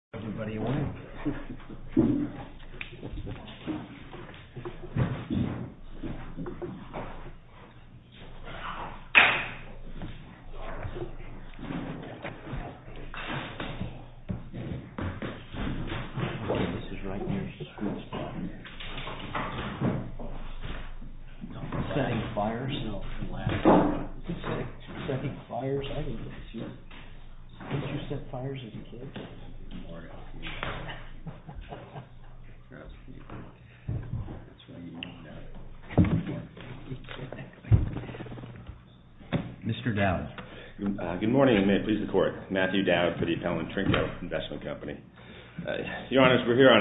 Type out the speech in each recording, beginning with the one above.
It opens September 3-A.M. Mr. Dowd. Good morning and may it please the Court. Matthew Dowd for the Appellant Trinco Investment Company. Your Honor, we're here on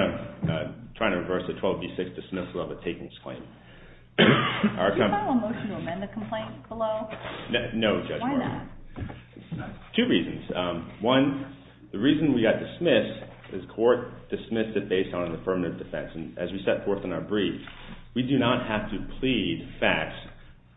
a, trying to reverse a 12b6 dismissal of a takings claim. Are a couple. Did you file a motion to amend the complaint below? No, Judge Morgan. Why not? Two reasons. One, the reason we got dismissed is court dismissed it based on an affirmative defense. And as we set forth in our brief, we do not have to plead facts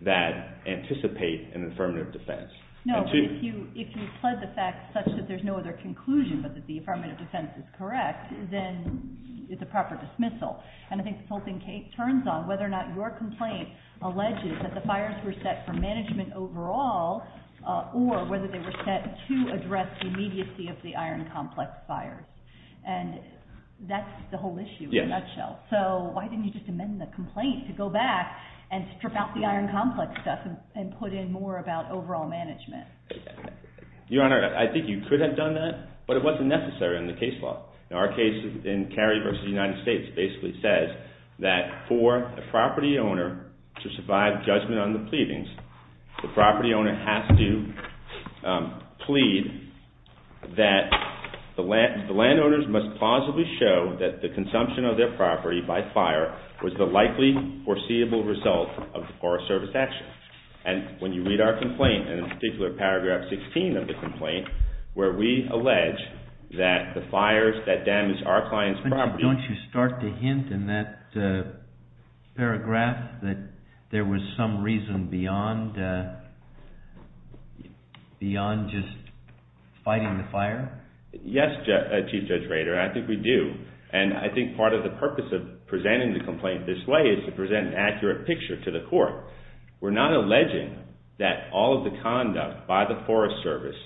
that anticipate an affirmative defense. No, but if you, if you pled the facts such that there's no other conclusion but that the affirmative defense is correct, then it's a proper dismissal. And I think the whole thing turns on whether or not your complaint alleges that the fires were set for management overall, or whether they were set to address the immediacy of the iron complex fires. And that's the whole issue in a nutshell. Yes. So why didn't you just amend the complaint to go back and strip out the iron complex stuff and put in more about overall management? Your Honor, I think you could have done that, but it wasn't necessary in the case law. Our case in Cary v. United States basically says that for a property owner to survive judgment on the pleadings, the property owner has to plead that the landowners must plausibly show that the consumption of their property by fire was the likely foreseeable result of forest service action. And when you read our complaint, and in particular, paragraph 16 of the complaint, where we allege that the fires that damaged our client's property... Is there some reason beyond just fighting the fire? Yes, Chief Judge Rader, I think we do. And I think part of the purpose of presenting the complaint this way is to present an accurate picture to the court. We're not alleging that all of the conduct by the Forest Service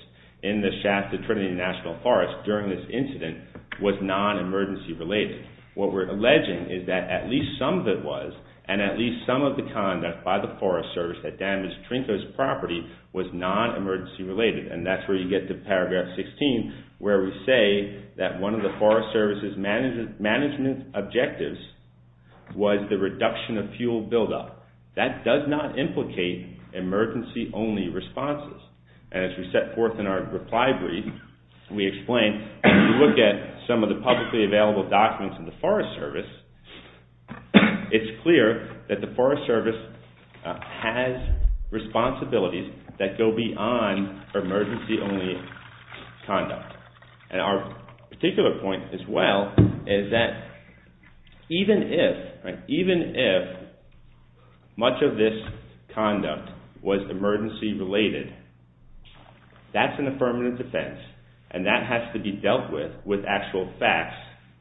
in the shaft of Trinity National Forest during this incident was non-emergency related. What we're alleging is that at least some of it was, and at least some of the conduct by the Forest Service that damaged Trinko's property was non-emergency related. And that's where you get to paragraph 16, where we say that one of the Forest Service's management objectives was the reduction of fuel buildup. That does not implicate emergency only responses. And as we set forth in our reply brief, we explained, if you look at some of the publicly available documents in the Forest Service, it's clear that the Forest Service has responsibilities that go beyond emergency only conduct. And our particular point as well is that even if much of this conduct was emergency related, that's an affirmative defense, and that has to be dealt with with actual facts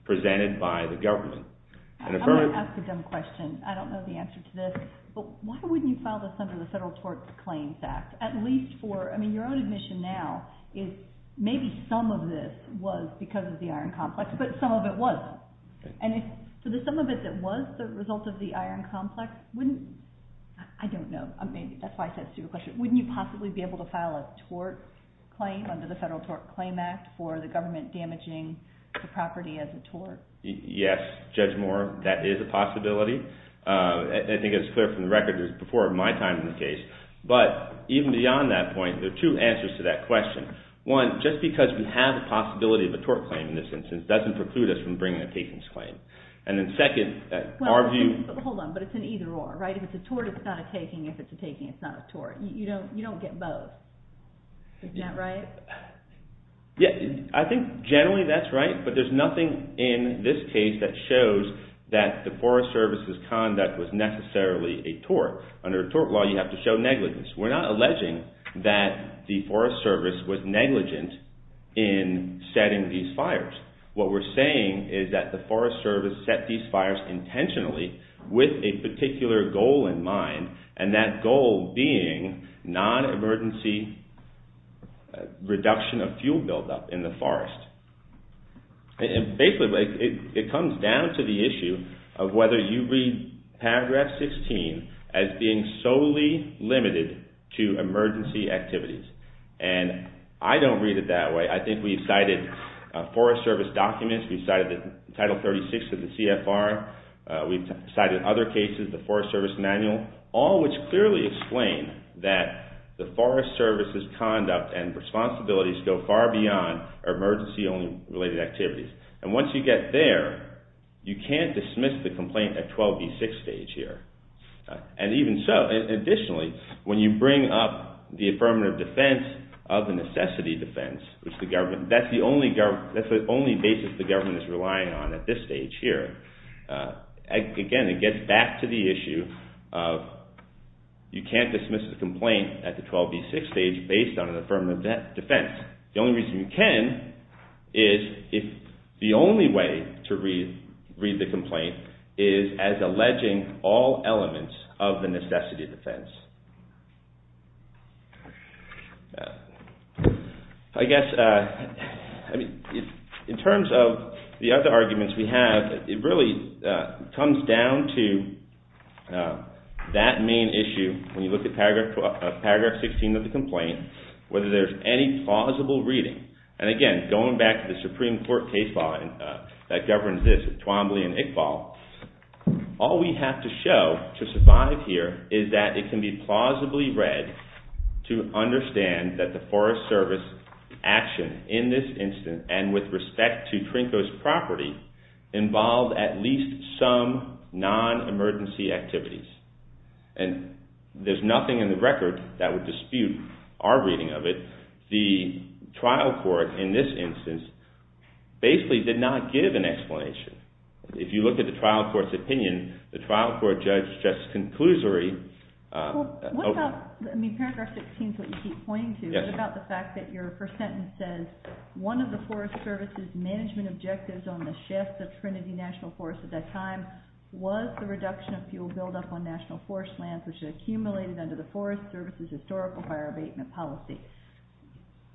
presented by the government. I'm going to ask a dumb question. I don't know the answer to this. But why wouldn't you file this under the Federal Tort Claims Act, at least for, I mean, your own admission now is maybe some of this was because of the iron complex, but some of it wasn't. And so the sum of it that was the result of the iron complex wouldn't, I don't know, that's your question. Wouldn't you possibly be able to file a tort claim under the Federal Tort Claims Act for the government damaging the property as a tort? Yes. Judge Moore, that is a possibility. I think it's clear from the record that it was before my time in the case. But even beyond that point, there are two answers to that question. One, just because we have the possibility of a tort claim in this instance doesn't preclude us from bringing a takings claim. And then second, our view... Well, hold on. But it's an either or, right? If it's a tort, it's not a taking. If it's a taking, it's not a tort. You don't get both. Isn't that right? Yeah, I think generally that's right. But there's nothing in this case that shows that the Forest Service's conduct was necessarily a tort. Under a tort law, you have to show negligence. We're not alleging that the Forest Service was negligent in setting these fires. What we're saying is that the Forest Service set these fires intentionally with a particular goal in mind, and that goal being non-emergency reduction of fuel buildup in the forest. Basically, it comes down to the issue of whether you read paragraph 16 as being solely limited to emergency activities. And I don't read it that way. I think we've cited Forest Service documents, we've cited Title 36 of the CFR, we've cited other cases, the Forest Service manual, all which clearly explain that the Forest Service's conduct and responsibilities go far beyond emergency-only related activities. And once you get there, you can't dismiss the complaint at 12b6 stage here. And even so, additionally, when you bring up the affirmative defense of the necessity defense, which the government, that's the only basis the government is relying on at this stage here, again, it gets back to the issue of you can't dismiss a complaint at the 12b6 stage based on an affirmative defense. The only reason you can is if the only way to read the complaint is as alleging all elements of the necessity defense. I guess, in terms of the other arguments we have, it really comes down to that main issue, when you look at paragraph 16 of the complaint, whether there's any plausible reading. And again, going back to the Supreme Court case law that governs this, Twombly and Iqbal, all we have to show to survive here is that it can be plausibly read to understand that the Forest Service action in this instance, and with respect to Trinko's property, involved at least some non-emergency activities. And there's nothing in the record that would dispute our reading of it. The trial court in this instance basically did not give an explanation. If you look at the trial court's opinion, the trial court judge's conclusory... What about, I mean paragraph 16 is what you keep pointing to, what about the fact that your first sentence says, one of the Forest Service's management objectives on the shafts of Trinity National Forest at that time was the reduction of fuel buildup on national forest lands which had accumulated under the Forest Service's historical fire abatement policy.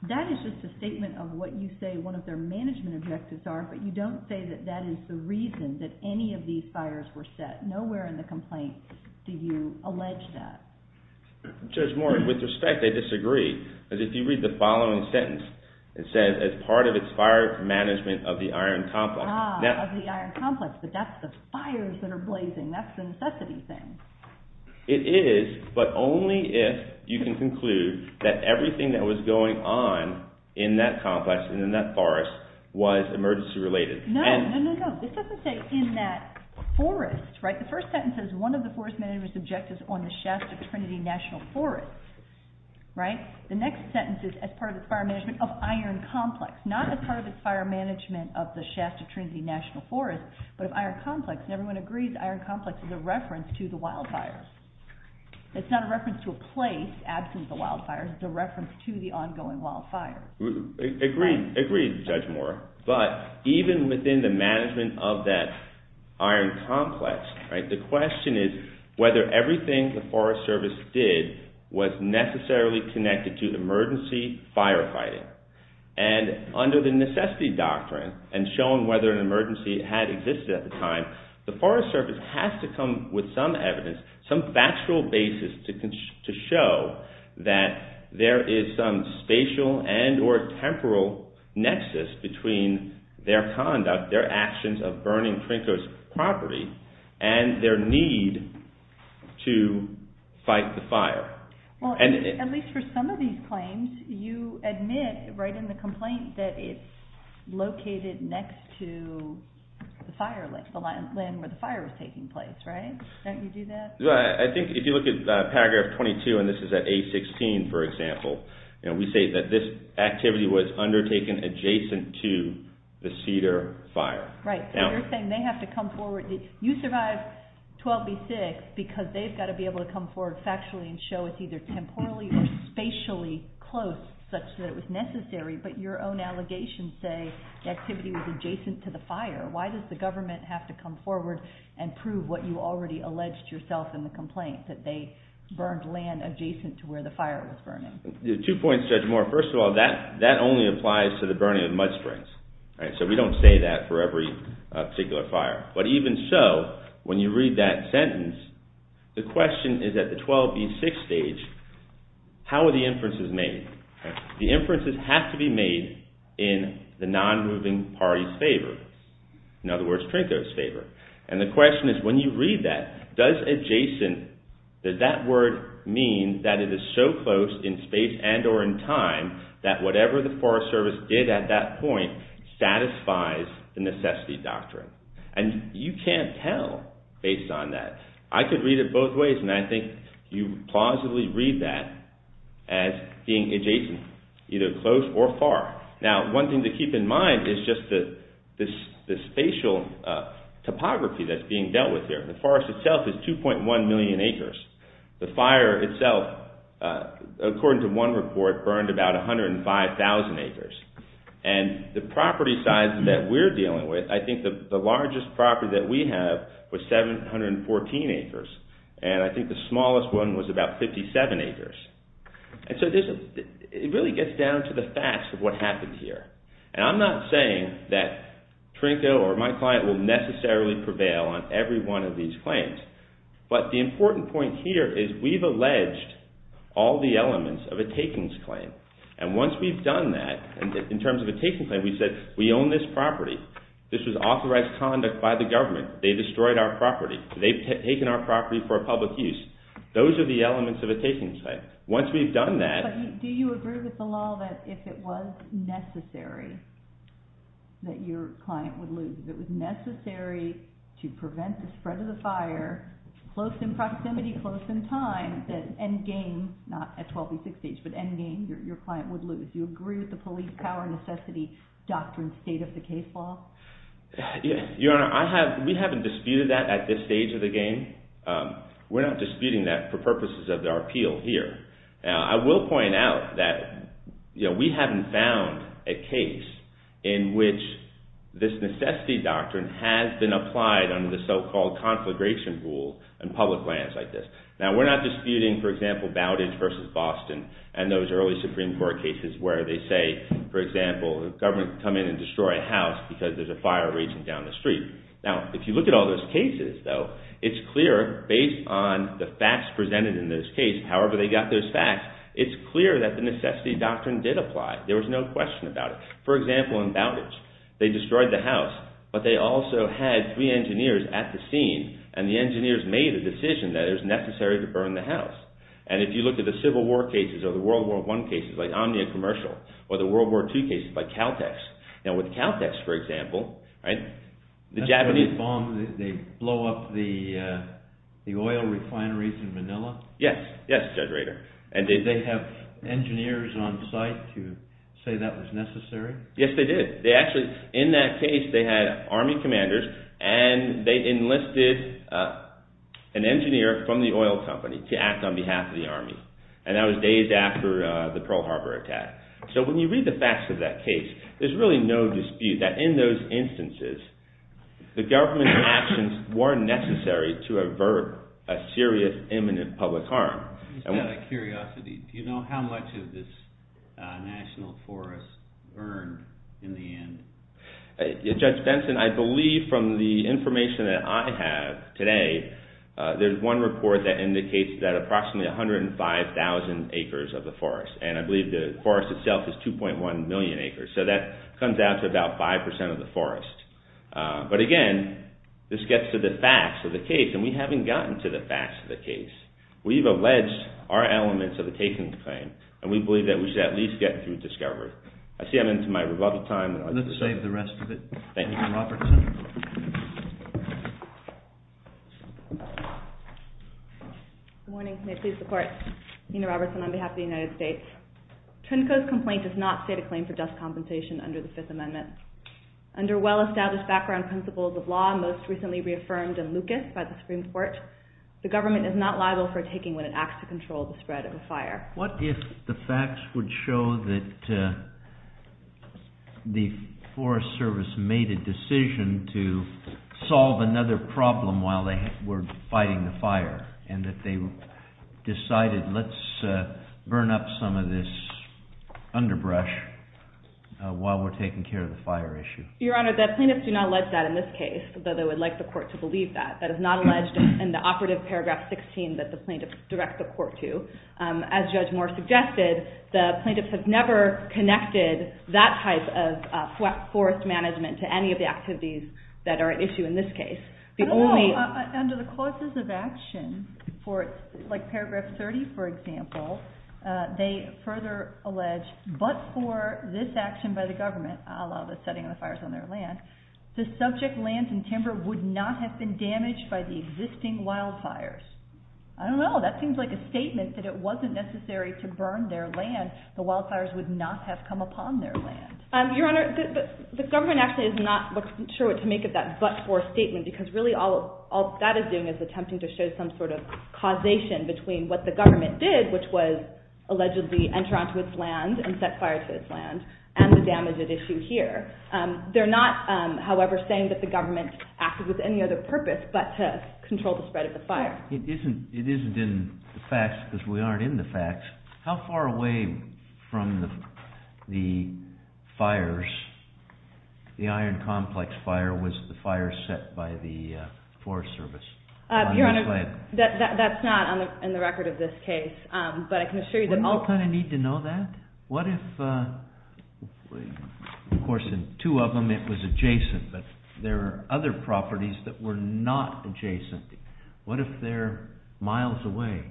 That is just a statement of what you say one of their management objectives are, but you don't say that that is the reason that any of these fires were set. Nowhere in the complaint do you allege that. Judge Moore, with respect, I disagree. Because if you read the following sentence, it says, as part of its fire management of the iron complex... Ah, of the iron complex, but that's the fires that are blazing. That's the necessity thing. It is, but only if you can conclude that everything that was going on in that complex and in that forest was emergency related. No, no, no, no. This doesn't say in that forest, right? The first sentence says, one of the forest manager's objectives on the shafts of Trinity National Forest, right? The next sentence is, as part of its fire management of iron complex. Not as part of its fire management of the shafts of Trinity National Forest, but of iron complex. And everyone agrees that iron complex is a reference to the wildfires. It's not a reference to a place absent the wildfires. It's a reference to the ongoing wildfires. Agreed. Agreed, Judge Moore. But even within the management of that iron complex, the question is whether everything the Forest Service did was necessarily connected to emergency firefighting. And under the necessity doctrine, and shown whether an emergency had existed at the time, the Forest Service has to come with some evidence, some factual basis to show that there is some immediate or temporal nexus between their conduct, their actions of burning Trinko's property, and their need to fight the fire. Well, at least for some of these claims, you admit right in the complaint that it's located next to the land where the fire was taking place, right? Don't you do that? I think if you look at paragraph 22, and this is at A16, for example, we say that this activity was undertaken adjacent to the Cedar fire. Right. So you're saying they have to come forward. You survive 12B6 because they've got to be able to come forward factually and show it's either temporally or spatially close, such that it was necessary. But your own allegations say the activity was adjacent to the fire. Why does the government have to come forward and prove what you already alleged yourself in the complaint, that they burned land adjacent to where the fire was burning? Two points, Judge Moore. First of all, that only applies to the burning of mud springs. So we don't say that for every particular fire. But even so, when you read that sentence, the question is at the 12B6 stage, how are the inferences made? The inferences have to be made in the non-moving party's favor. In other words, Trinko's favor. And the question is when you read that, does adjacent, does that word mean that it is so close in space and or in time that whatever the Forest Service did at that point satisfies the necessity doctrine? And you can't tell based on that. I could read it both ways, and I think you plausibly read that as being adjacent, either close or far. Now, one thing to keep in mind is just the spatial topography that's being dealt with here. The forest itself is 2.1 million acres. The fire itself, according to one report, burned about 105,000 acres. And the property size that we're dealing with, I think the largest property that we have was 714 acres. And I think the smallest one was about 57 acres. And so it really gets down to the facts of what happened here. And I'm not saying that Trinko or my client will necessarily prevail on every one of these claims. But the important point here is we've alleged all the elements of a takings claim. And once we've done that, in terms of a takings claim, we said we own this property. This was authorized conduct by the government. They destroyed our property. They've taken our property for public use. Those are the elements of a takings claim. Once we've done that- But do you agree with the law that if it was necessary that your client would lose? If it was necessary to prevent the spread of the fire, close in proximity, close in time, that end game, not at 12B6H, but end game, your client would lose. Do you agree with the police power necessity doctrine state of the case law? Your Honor, we haven't disputed that at this stage of the game. We're not disputing that for purposes of our appeal here. Now, I will point out that we haven't found a case in which this necessity doctrine has been applied under the so-called conflagration rule in public lands like this. Now, we're not disputing, for example, Bowditch v. Boston and those early Supreme Court cases where they say, for example, the government come in and destroy a house because there's a fire raging down the street. Now, if you look at all those cases, though, it's clear based on the facts presented in this case, however they got those facts, it's clear that the necessity doctrine did apply. There was no question about it. For example, in Bowditch, they destroyed the house, but they also had three engineers at the scene and the engineers made a decision that it was necessary to burn the house. And if you look at the Civil War cases or the World War I cases like Omnia Commercial or the World War II cases like Caltex. Now, with Caltex, for example, the Japanese... That's when they bomb, they blow up the oil refineries in Manila? Yes, yes, Judge Rader. And did they have engineers on site to say that was necessary? Yes, they did. They actually, in that case, they had army commanders and they enlisted an engineer from the oil company to act on behalf of the army. And that was days after the Pearl Harbor attack. So when you read the facts of that case, there's really no dispute that in those instances, the government's actions were necessary to avert a serious imminent public harm. Just out of curiosity, do you know how much of this national forest burned in the end? Judge Benson, I believe from the information that I have today, there's one report that indicates that approximately 105,000 acres of the forest. And I believe the forest itself is 2.1 million acres. So that comes out to about 5% of the forest. But again, this gets to the facts of the case, and we haven't gotten to the facts of the case. We've alleged our elements of the casings claim, and we believe that we should at least get through discovery. I see I'm into my rebuttal time. Let's save the rest of it. Thank you. Good morning. May it please the Court. Nina Robertson on behalf of the United States. Trinco's complaint does not state a claim for just compensation under the Fifth Amendment. Under well-established background principles of law, most recently reaffirmed in Lucas by the Supreme Court, the government is not liable for a taking when it acts to control the spread of a fire. What if the facts would show that the Forest Service made a decision to solve another problem while they were fighting the fire, and that they decided let's burn up some of this underbrush while we're taking care of the fire issue? Your Honor, the plaintiffs do not allege that in this case, though they would like the Court to believe that. That is not alleged in the operative paragraph 16 that the plaintiffs direct the Court to. As Judge Moore suggested, the plaintiffs have never connected that type of forest management to any of the activities that are at issue in this case. I don't know. Under the causes of action, like paragraph 30, for example, they further allege, but for this action by the government, a la the setting of the fires on their land, the subject lands and timber would not have been damaged by the existing wildfires. I don't know. That seems like a statement that it wasn't necessary to burn their land. The wildfires would not have come upon their land. Your Honor, the government actually is not sure what to make of that but-for statement, because really all that is doing is attempting to show some sort of causation between what the government did, which was allegedly enter onto its land and set fire to its land, and the damage at issue here. They're not, however, saying that the government acted with any other purpose but to control the spread of the fire. It isn't in the facts, because we aren't in the facts. How far away from the fires, the iron complex fire, was the fire set by the Forest Service? Your Honor, that's not on the record of this case, but I can assure you that all- Wouldn't you kind of need to know that? What if, of course, in two of them it was adjacent, but there are other properties that were not adjacent? What if they're miles away?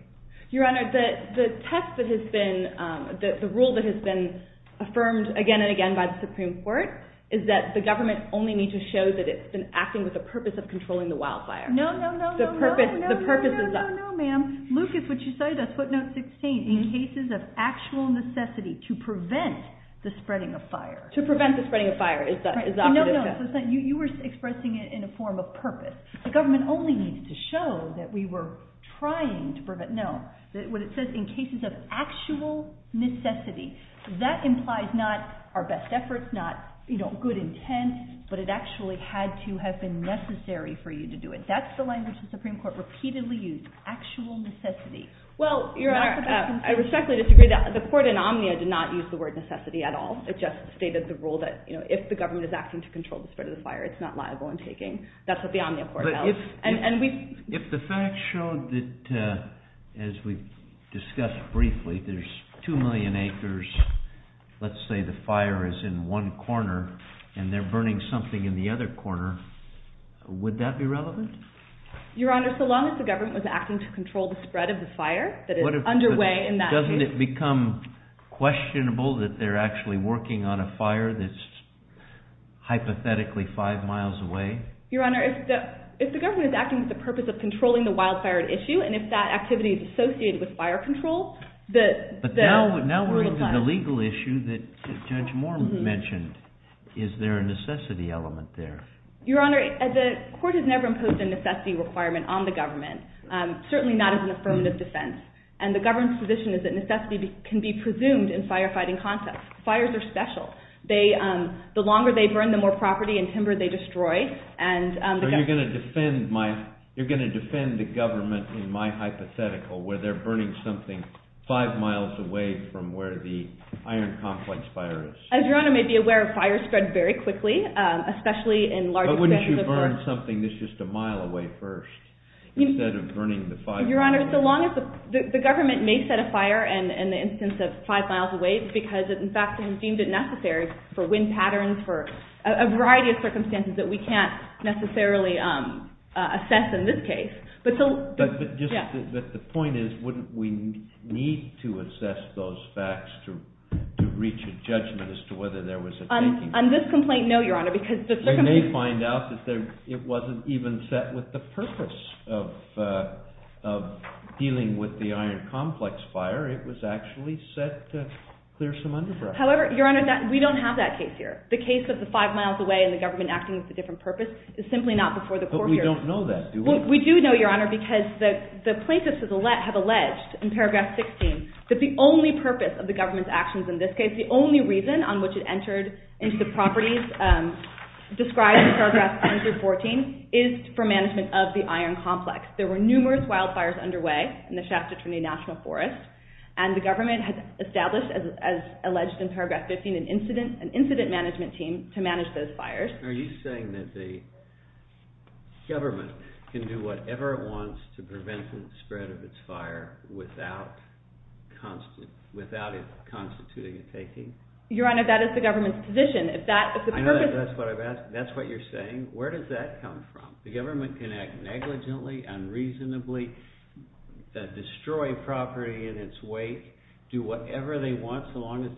Your Honor, the test that has been-the rule that has been affirmed again and again by the Supreme Court is that the government only needs to show that it's been acting with the purpose of controlling the wildfire. No, no, no, no, no. The purpose is- No, no, no, no, no, ma'am. Lucas, what you say, that's footnote 16. In cases of actual necessity to prevent the spreading of fire. To prevent the spreading of fire is the- No, no, no. You were expressing it in a form of purpose. The government only needs to show that we were trying to prevent-no. What it says, in cases of actual necessity, that implies not our best efforts, not good intent, but it actually had to have been necessary for you to do it. That's the language the Supreme Court repeatedly used, actual necessity. Well, Your Honor, I respectfully disagree. The court in Omnia did not use the word necessity at all. It just stated the rule that if the government is acting to control the spread of the fire, it's not liable in taking. That's what the Omnia court held. If the facts showed that, as we discussed briefly, there's 2 million acres, let's say the fire is in one corner and they're burning something in the other corner, would that be relevant? Your Honor, so long as the government was acting to control the spread of the fire that is underway in that case- Is the government working on a fire that's hypothetically 5 miles away? Your Honor, if the government is acting with the purpose of controlling the wildfire issue and if that activity is associated with fire control- But now we're into the legal issue that Judge Moore mentioned. Is there a necessity element there? Your Honor, the court has never imposed a necessity requirement on the government, certainly not as an affirmative defense, and the government's position is that necessity can be presumed in firefighting context. Fires are special. The longer they burn, the more property and timber they destroy. So you're going to defend the government in my hypothetical where they're burning something 5 miles away from where the iron complex fire is. As Your Honor may be aware, fires spread very quickly, especially in large- But wouldn't you burn something that's just a mile away first instead of burning the fire? Your Honor, the government may set a fire in the instance of 5 miles away because, in fact, they deemed it necessary for wind patterns, for a variety of circumstances that we can't necessarily assess in this case. But the point is wouldn't we need to assess those facts to reach a judgment as to whether there was a taking place? On this complaint, no, Your Honor, because the circumstances- dealing with the iron complex fire, it was actually set to clear some undergrowth. However, Your Honor, we don't have that case here. The case of the 5 miles away and the government acting with a different purpose is simply not before the court here. But we don't know that, do we? We do know, Your Honor, because the plaintiffs have alleged in paragraph 16 that the only purpose of the government's actions in this case, the only reason on which it entered into the properties described in paragraph 114 is for management of the iron complex. There were numerous wildfires underway in the Shasta-Trinity National Forest, and the government has established, as alleged in paragraph 15, an incident management team to manage those fires. Are you saying that the government can do whatever it wants to prevent the spread of its fire without it constituting a taking? Your Honor, that is the government's position. I know that's what I'm asking. That's what you're saying. Where does that come from? The government can act negligently, unreasonably, destroy property in its wake, do whatever they want so long as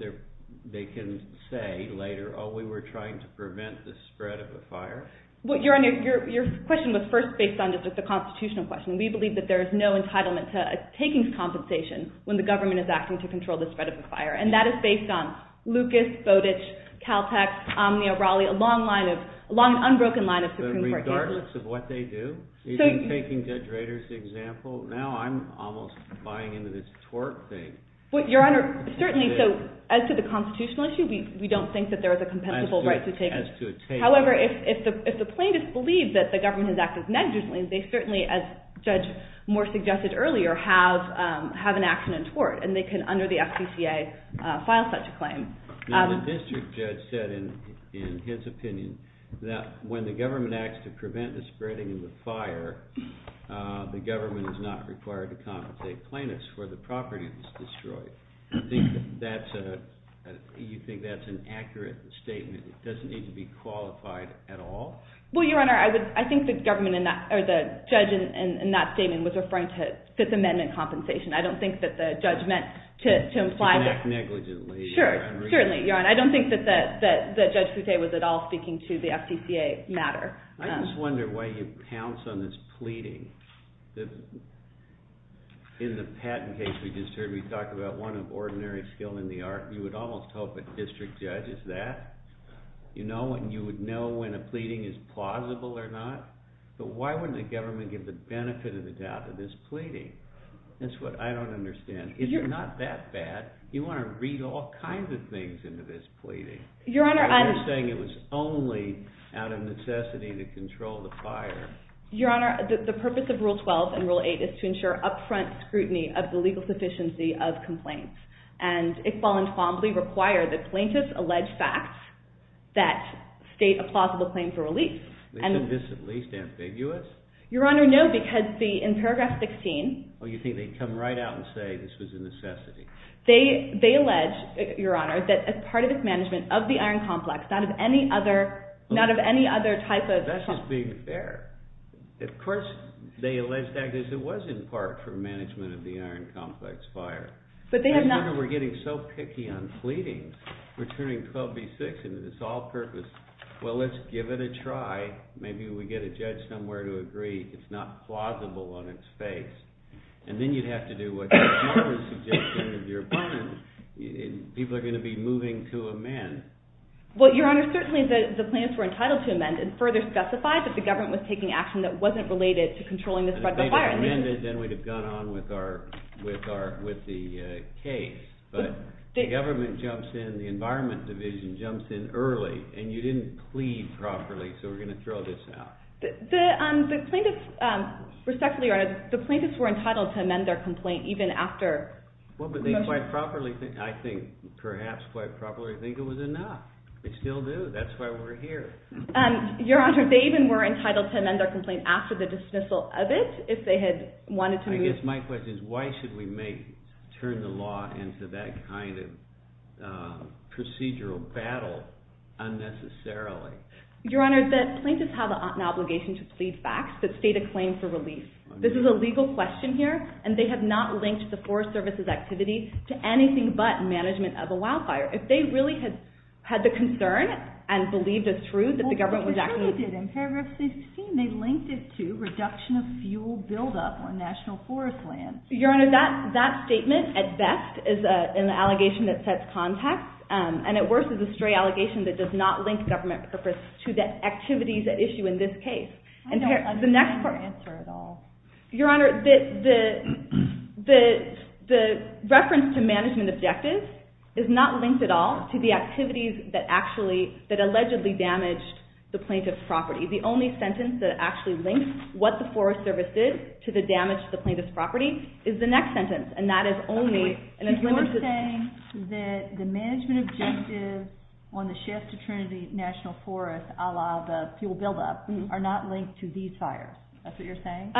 they can say later, oh, we were trying to prevent the spread of the fire? Your Honor, your question was first based on just a constitutional question. We believe that there is no entitlement to taking compensation when the government is acting to control the spread of the fire, and that is based on Lucas, Bowditch, Caltech, Omnia, Raleigh, a long unbroken line of Supreme Court cases. Regardless of what they do? You've been taking Judge Rader's example. Now I'm almost buying into this tort thing. Your Honor, certainly, as to the constitutional issue, we don't think that there is a compensable right to take it. However, if the plaintiff believes that the government has acted negligently, they certainly, as Judge Moore suggested earlier, have an action in tort, and they can, under the FCCA, file such a claim. The district judge said in his opinion that when the government acts to prevent the spreading of the fire, the government is not required to compensate plaintiffs for the property that's destroyed. Do you think that's an accurate statement? It doesn't need to be qualified at all? Well, Your Honor, I think the judge in that statement was referring to Fifth Amendment compensation. I don't think that the judge meant to imply that... To act negligently, Your Honor. Sure, certainly, Your Honor. I don't think that Judge Foute was at all speaking to the FCCA matter. I just wonder why you pounce on this pleading. In the Patton case we just heard, we talked about one of ordinary skill in the art. You would almost hope a district judge is that. You would know when a pleading is plausible or not. But why wouldn't the government get the benefit of the doubt of this pleading? That's what I don't understand. It's not that bad. You want to read all kinds of things into this pleading. You're saying it was only out of necessity to control the fire. Your Honor, the purpose of Rule 12 and Rule 8 is to ensure upfront scrutiny of the legal sufficiency of complaints. And Iqbal and Twombly require that plaintiffs allege facts that state a plausible claim for release. Isn't this at least ambiguous? Your Honor, no, because in paragraph 16... Oh, you think they'd come right out and say this was a necessity. They allege, Your Honor, that as part of its management of the iron complex, not of any other type of... That's just being fair. Of course they allege that because it was in part for management of the iron complex fire. But they have not... We're getting so picky on pleadings. We're turning 12b-6 into this all-purpose, well, let's give it a try. Maybe we get a judge somewhere to agree it's not plausible on its face. And then you'd have to do what Judge Martin suggested with your pun. People are going to be moving to amend. Well, Your Honor, certainly the plaintiffs were entitled to amend and further specify that the government was taking action that wasn't related to controlling the spread of the fire. If they'd have amended, then we'd have gone on with the case. But the government jumps in, the Environment Division jumps in early, and you didn't plead properly, so we're going to throw this out. Respectfully, Your Honor, the plaintiffs were entitled to amend their complaint even after... Well, but they quite properly, I think, perhaps quite properly think it was enough. They still do. That's why we're here. Your Honor, they even were entitled to amend their complaint after the dismissal of it if they had wanted to move... I guess my question is why should we turn the law into that kind of procedural battle unnecessarily? Your Honor, the plaintiffs have an obligation to plead facts that state a claim for relief. This is a legal question here, and they have not linked the Forest Service's activity to anything but management of a wildfire. If they really had the concern and believed it's true that the government was actually... Well, they certainly did. In paragraph 16, they linked it to reduction of fuel buildup on national forest lands. Your Honor, that statement at best is an allegation that sets context, and at worst is a stray allegation that does not link government purpose to the activities at issue in this case. I don't understand your answer at all. Your Honor, the reference to management objectives is not linked at all to the activities that allegedly damaged the plaintiff's property. The only sentence that actually links what the Forest Service did to the damage to the plaintiff's property is the next sentence, and that is only... You're saying that the management objectives on the shift to Trinity National Forest, a la the fuel buildup, are not linked to these fires. That's what you're saying?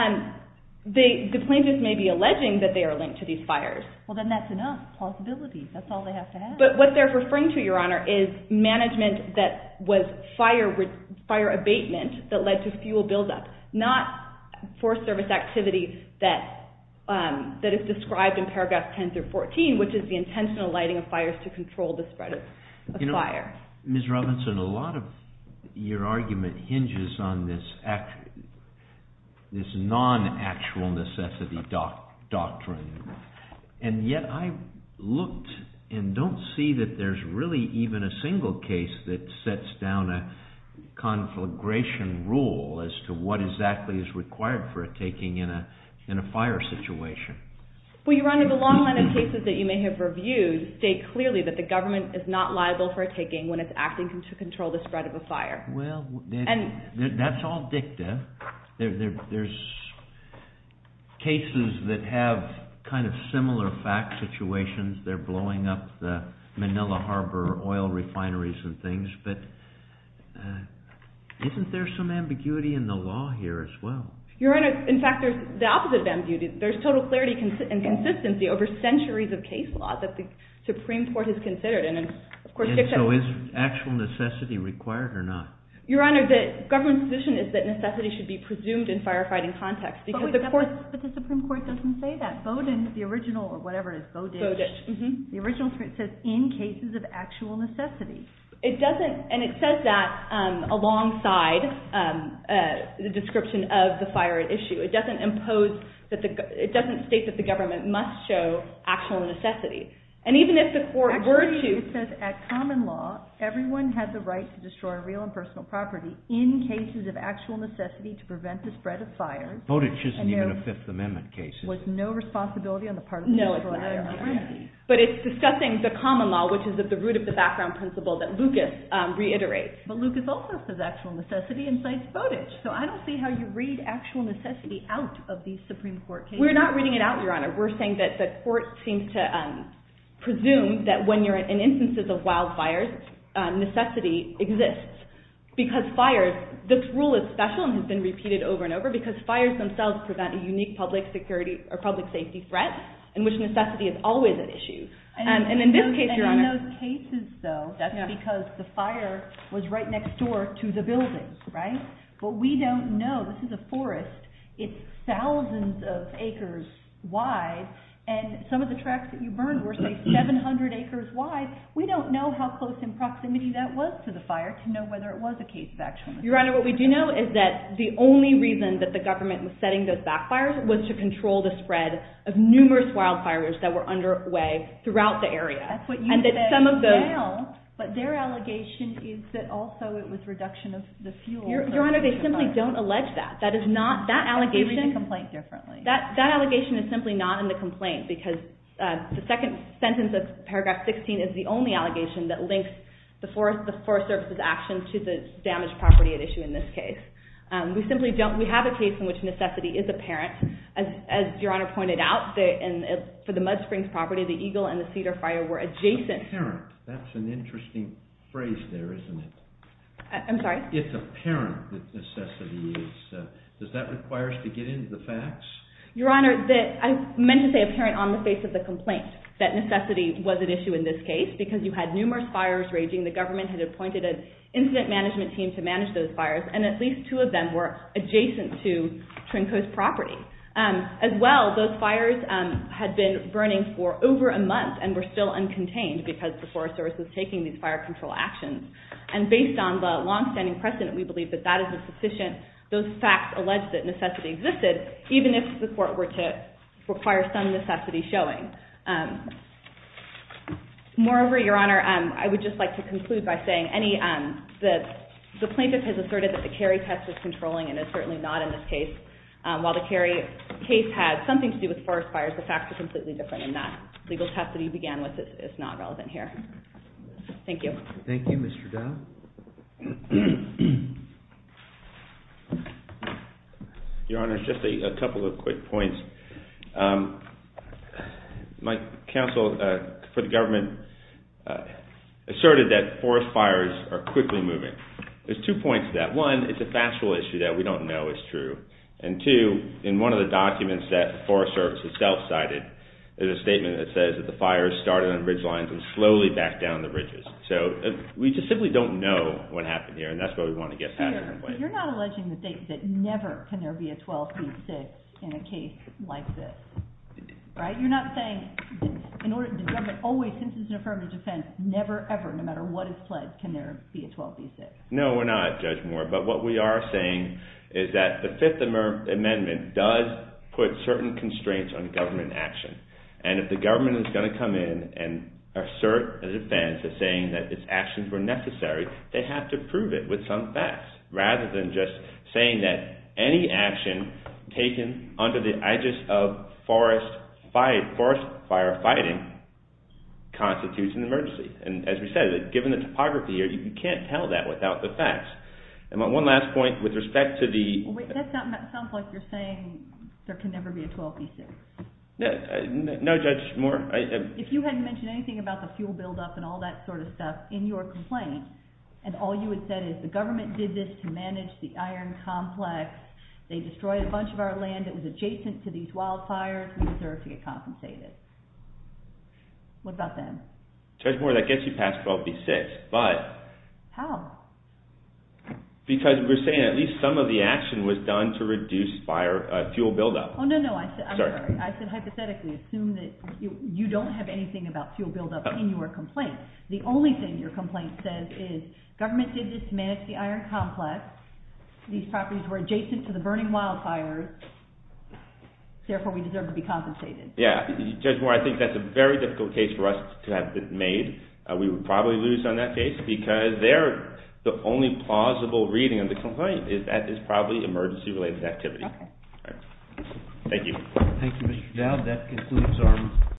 The plaintiffs may be alleging that they are linked to these fires. Well, then that's enough plausibility. That's all they have to have. But what they're referring to, Your Honor, is management that was fire abatement that led to fuel buildup, not Forest Service activity that is described in paragraphs 10 through 14, which is the intentional lighting of fires to control the spread of fire. Ms. Robinson, a lot of your argument hinges on this non-actual necessity doctrine, and yet I looked and don't see that there's really even a single case that sets down a conflagration rule as to what exactly is required for a taking in a fire situation. Well, Your Honor, the long line of cases that you may have reviewed state clearly that the government is not liable for a taking when it's acting to control the spread of a fire. Well, that's all dicta. There's cases that have kind of similar fact situations. They're blowing up the Manila Harbor oil refineries and things, but isn't there some ambiguity in the law here as well? Your Honor, in fact, there's the opposite of ambiguity. There's total clarity and consistency over centuries of case law that the Supreme Court has considered. And so is actual necessity required or not? Your Honor, the government's position is that necessity should be presumed in firefighting context. But the Supreme Court doesn't say that. Bowdoin, the original, or whatever it is, Bowditch, the original says in cases of actual necessity. And it says that alongside the description of the fire at issue. It doesn't state that the government must show actual necessity. Actually, it says at common law, everyone has the right to destroy real and personal property in cases of actual necessity to prevent the spread of fires. Bowditch isn't even a Fifth Amendment case. There was no responsibility on the part of the federal government. But it's discussing the common law, which is at the root of the background principle that Lucas reiterates. But Lucas also says actual necessity incites Bowditch. So I don't see how you read actual necessity out of these Supreme Court cases. We're not reading it out, Your Honor. We're saying that the court seems to presume that when you're in instances of wildfires, necessity exists. Because fires, this rule is special and has been repeated over and over, because fires themselves prevent a unique public safety threat in which necessity is always at issue. And in this case, Your Honor. And in those cases, though, that's because the fire was right next door to the buildings, right? But we don't know. This is a forest. It's thousands of acres wide. And some of the tracks that you burned were, say, 700 acres wide. We don't know how close in proximity that was to the fire to know whether it was a case of actual necessity. Your Honor, what we do know is that the only reason that the government was setting those backfires was to control the spread of numerous wildfires that were underway throughout the area. That's what you said now. But their allegation is that also it was reduction of the fuel. Your Honor, they simply don't allege that. That allegation is simply not in the complaint because the second sentence of paragraph 16 is the only allegation that links the Forest Service's actions to the damaged property at issue in this case. We simply don't. We have a case in which necessity is apparent. As Your Honor pointed out, for the Mud Springs property, the eagle and the cedar fire were adjacent. Apparent. That's an interesting phrase there, isn't it? I'm sorry? It's apparent that necessity is. Does that require us to get into the facts? Your Honor, I meant to say apparent on the face of the complaint that necessity was at issue in this case because you had numerous fires raging. The government had appointed an incident management team to manage those fires, and at least two of them were adjacent to Twin Coast property. As well, those fires had been burning for over a month and were still uncontained because the Forest Service was taking these fire control actions. And based on the long-standing precedent, we believe that that is sufficient. Those facts allege that necessity existed even if the court were to require some necessity showing. Moreover, Your Honor, I would just like to conclude by saying the plaintiff has asserted that the Cary test was controlling and is certainly not in this case. While the Cary case had something to do with forest fires, the facts are completely different and that legal test that he began with is not relevant here. Thank you. Thank you, Mr. Dowd. Your Honor, just a couple of quick points. My counsel for the government asserted that forest fires are quickly moving. There's two points to that. One, it's a factual issue that we don't know is true. And two, in one of the documents that the Forest Service itself cited, there's a statement that says that the fires started on bridge lines and slowly backed down the bridges. So we just simply don't know what happened here and that's why we want to get that out of the way. But you're not alleging the state that never can there be a 12-feet sit in a case like this, right? You're not saying in order to determine always since it's an affirmative defense, never ever, no matter what is pledged, can there be a 12-feet sit? No, we're not, Judge Moore. But what we are saying is that the Fifth Amendment does put certain constraints on government action. And if the government is going to come in and assert a defense of saying that its actions were necessary, they have to prove it with some facts rather than just saying that any action taken under the aegis of forest fire fighting constitutes an emergency. And as we said, given the topography here, you can't tell that without the facts. And one last point with respect to the... Wait, that sounds like you're saying there can never be a 12-feet sit. No, Judge Moore. If you hadn't mentioned anything about the fuel buildup and all that sort of stuff in your complaint, and all you had said is the government did this to manage the iron complex, they destroyed a bunch of our land that was adjacent to these wildfires, we deserve to get compensated. What about them? Judge Moore, that gets you past 12-feet sits. But... How? Because we're saying at least some of the action was done to reduce fuel buildup. Oh, no, no, I said hypothetically. You don't have anything about fuel buildup in your complaint. The only thing your complaint says is government did this to manage the iron complex, these properties were adjacent to the burning wildfires, therefore we deserve to be compensated. Yeah, Judge Moore, I think that's a very difficult case for us to have made. We would probably lose on that case because the only plausible reading of the complaint is that it's probably emergency-related activity. Okay. Thank you. Thank you, Mr. Dowd. That concludes our...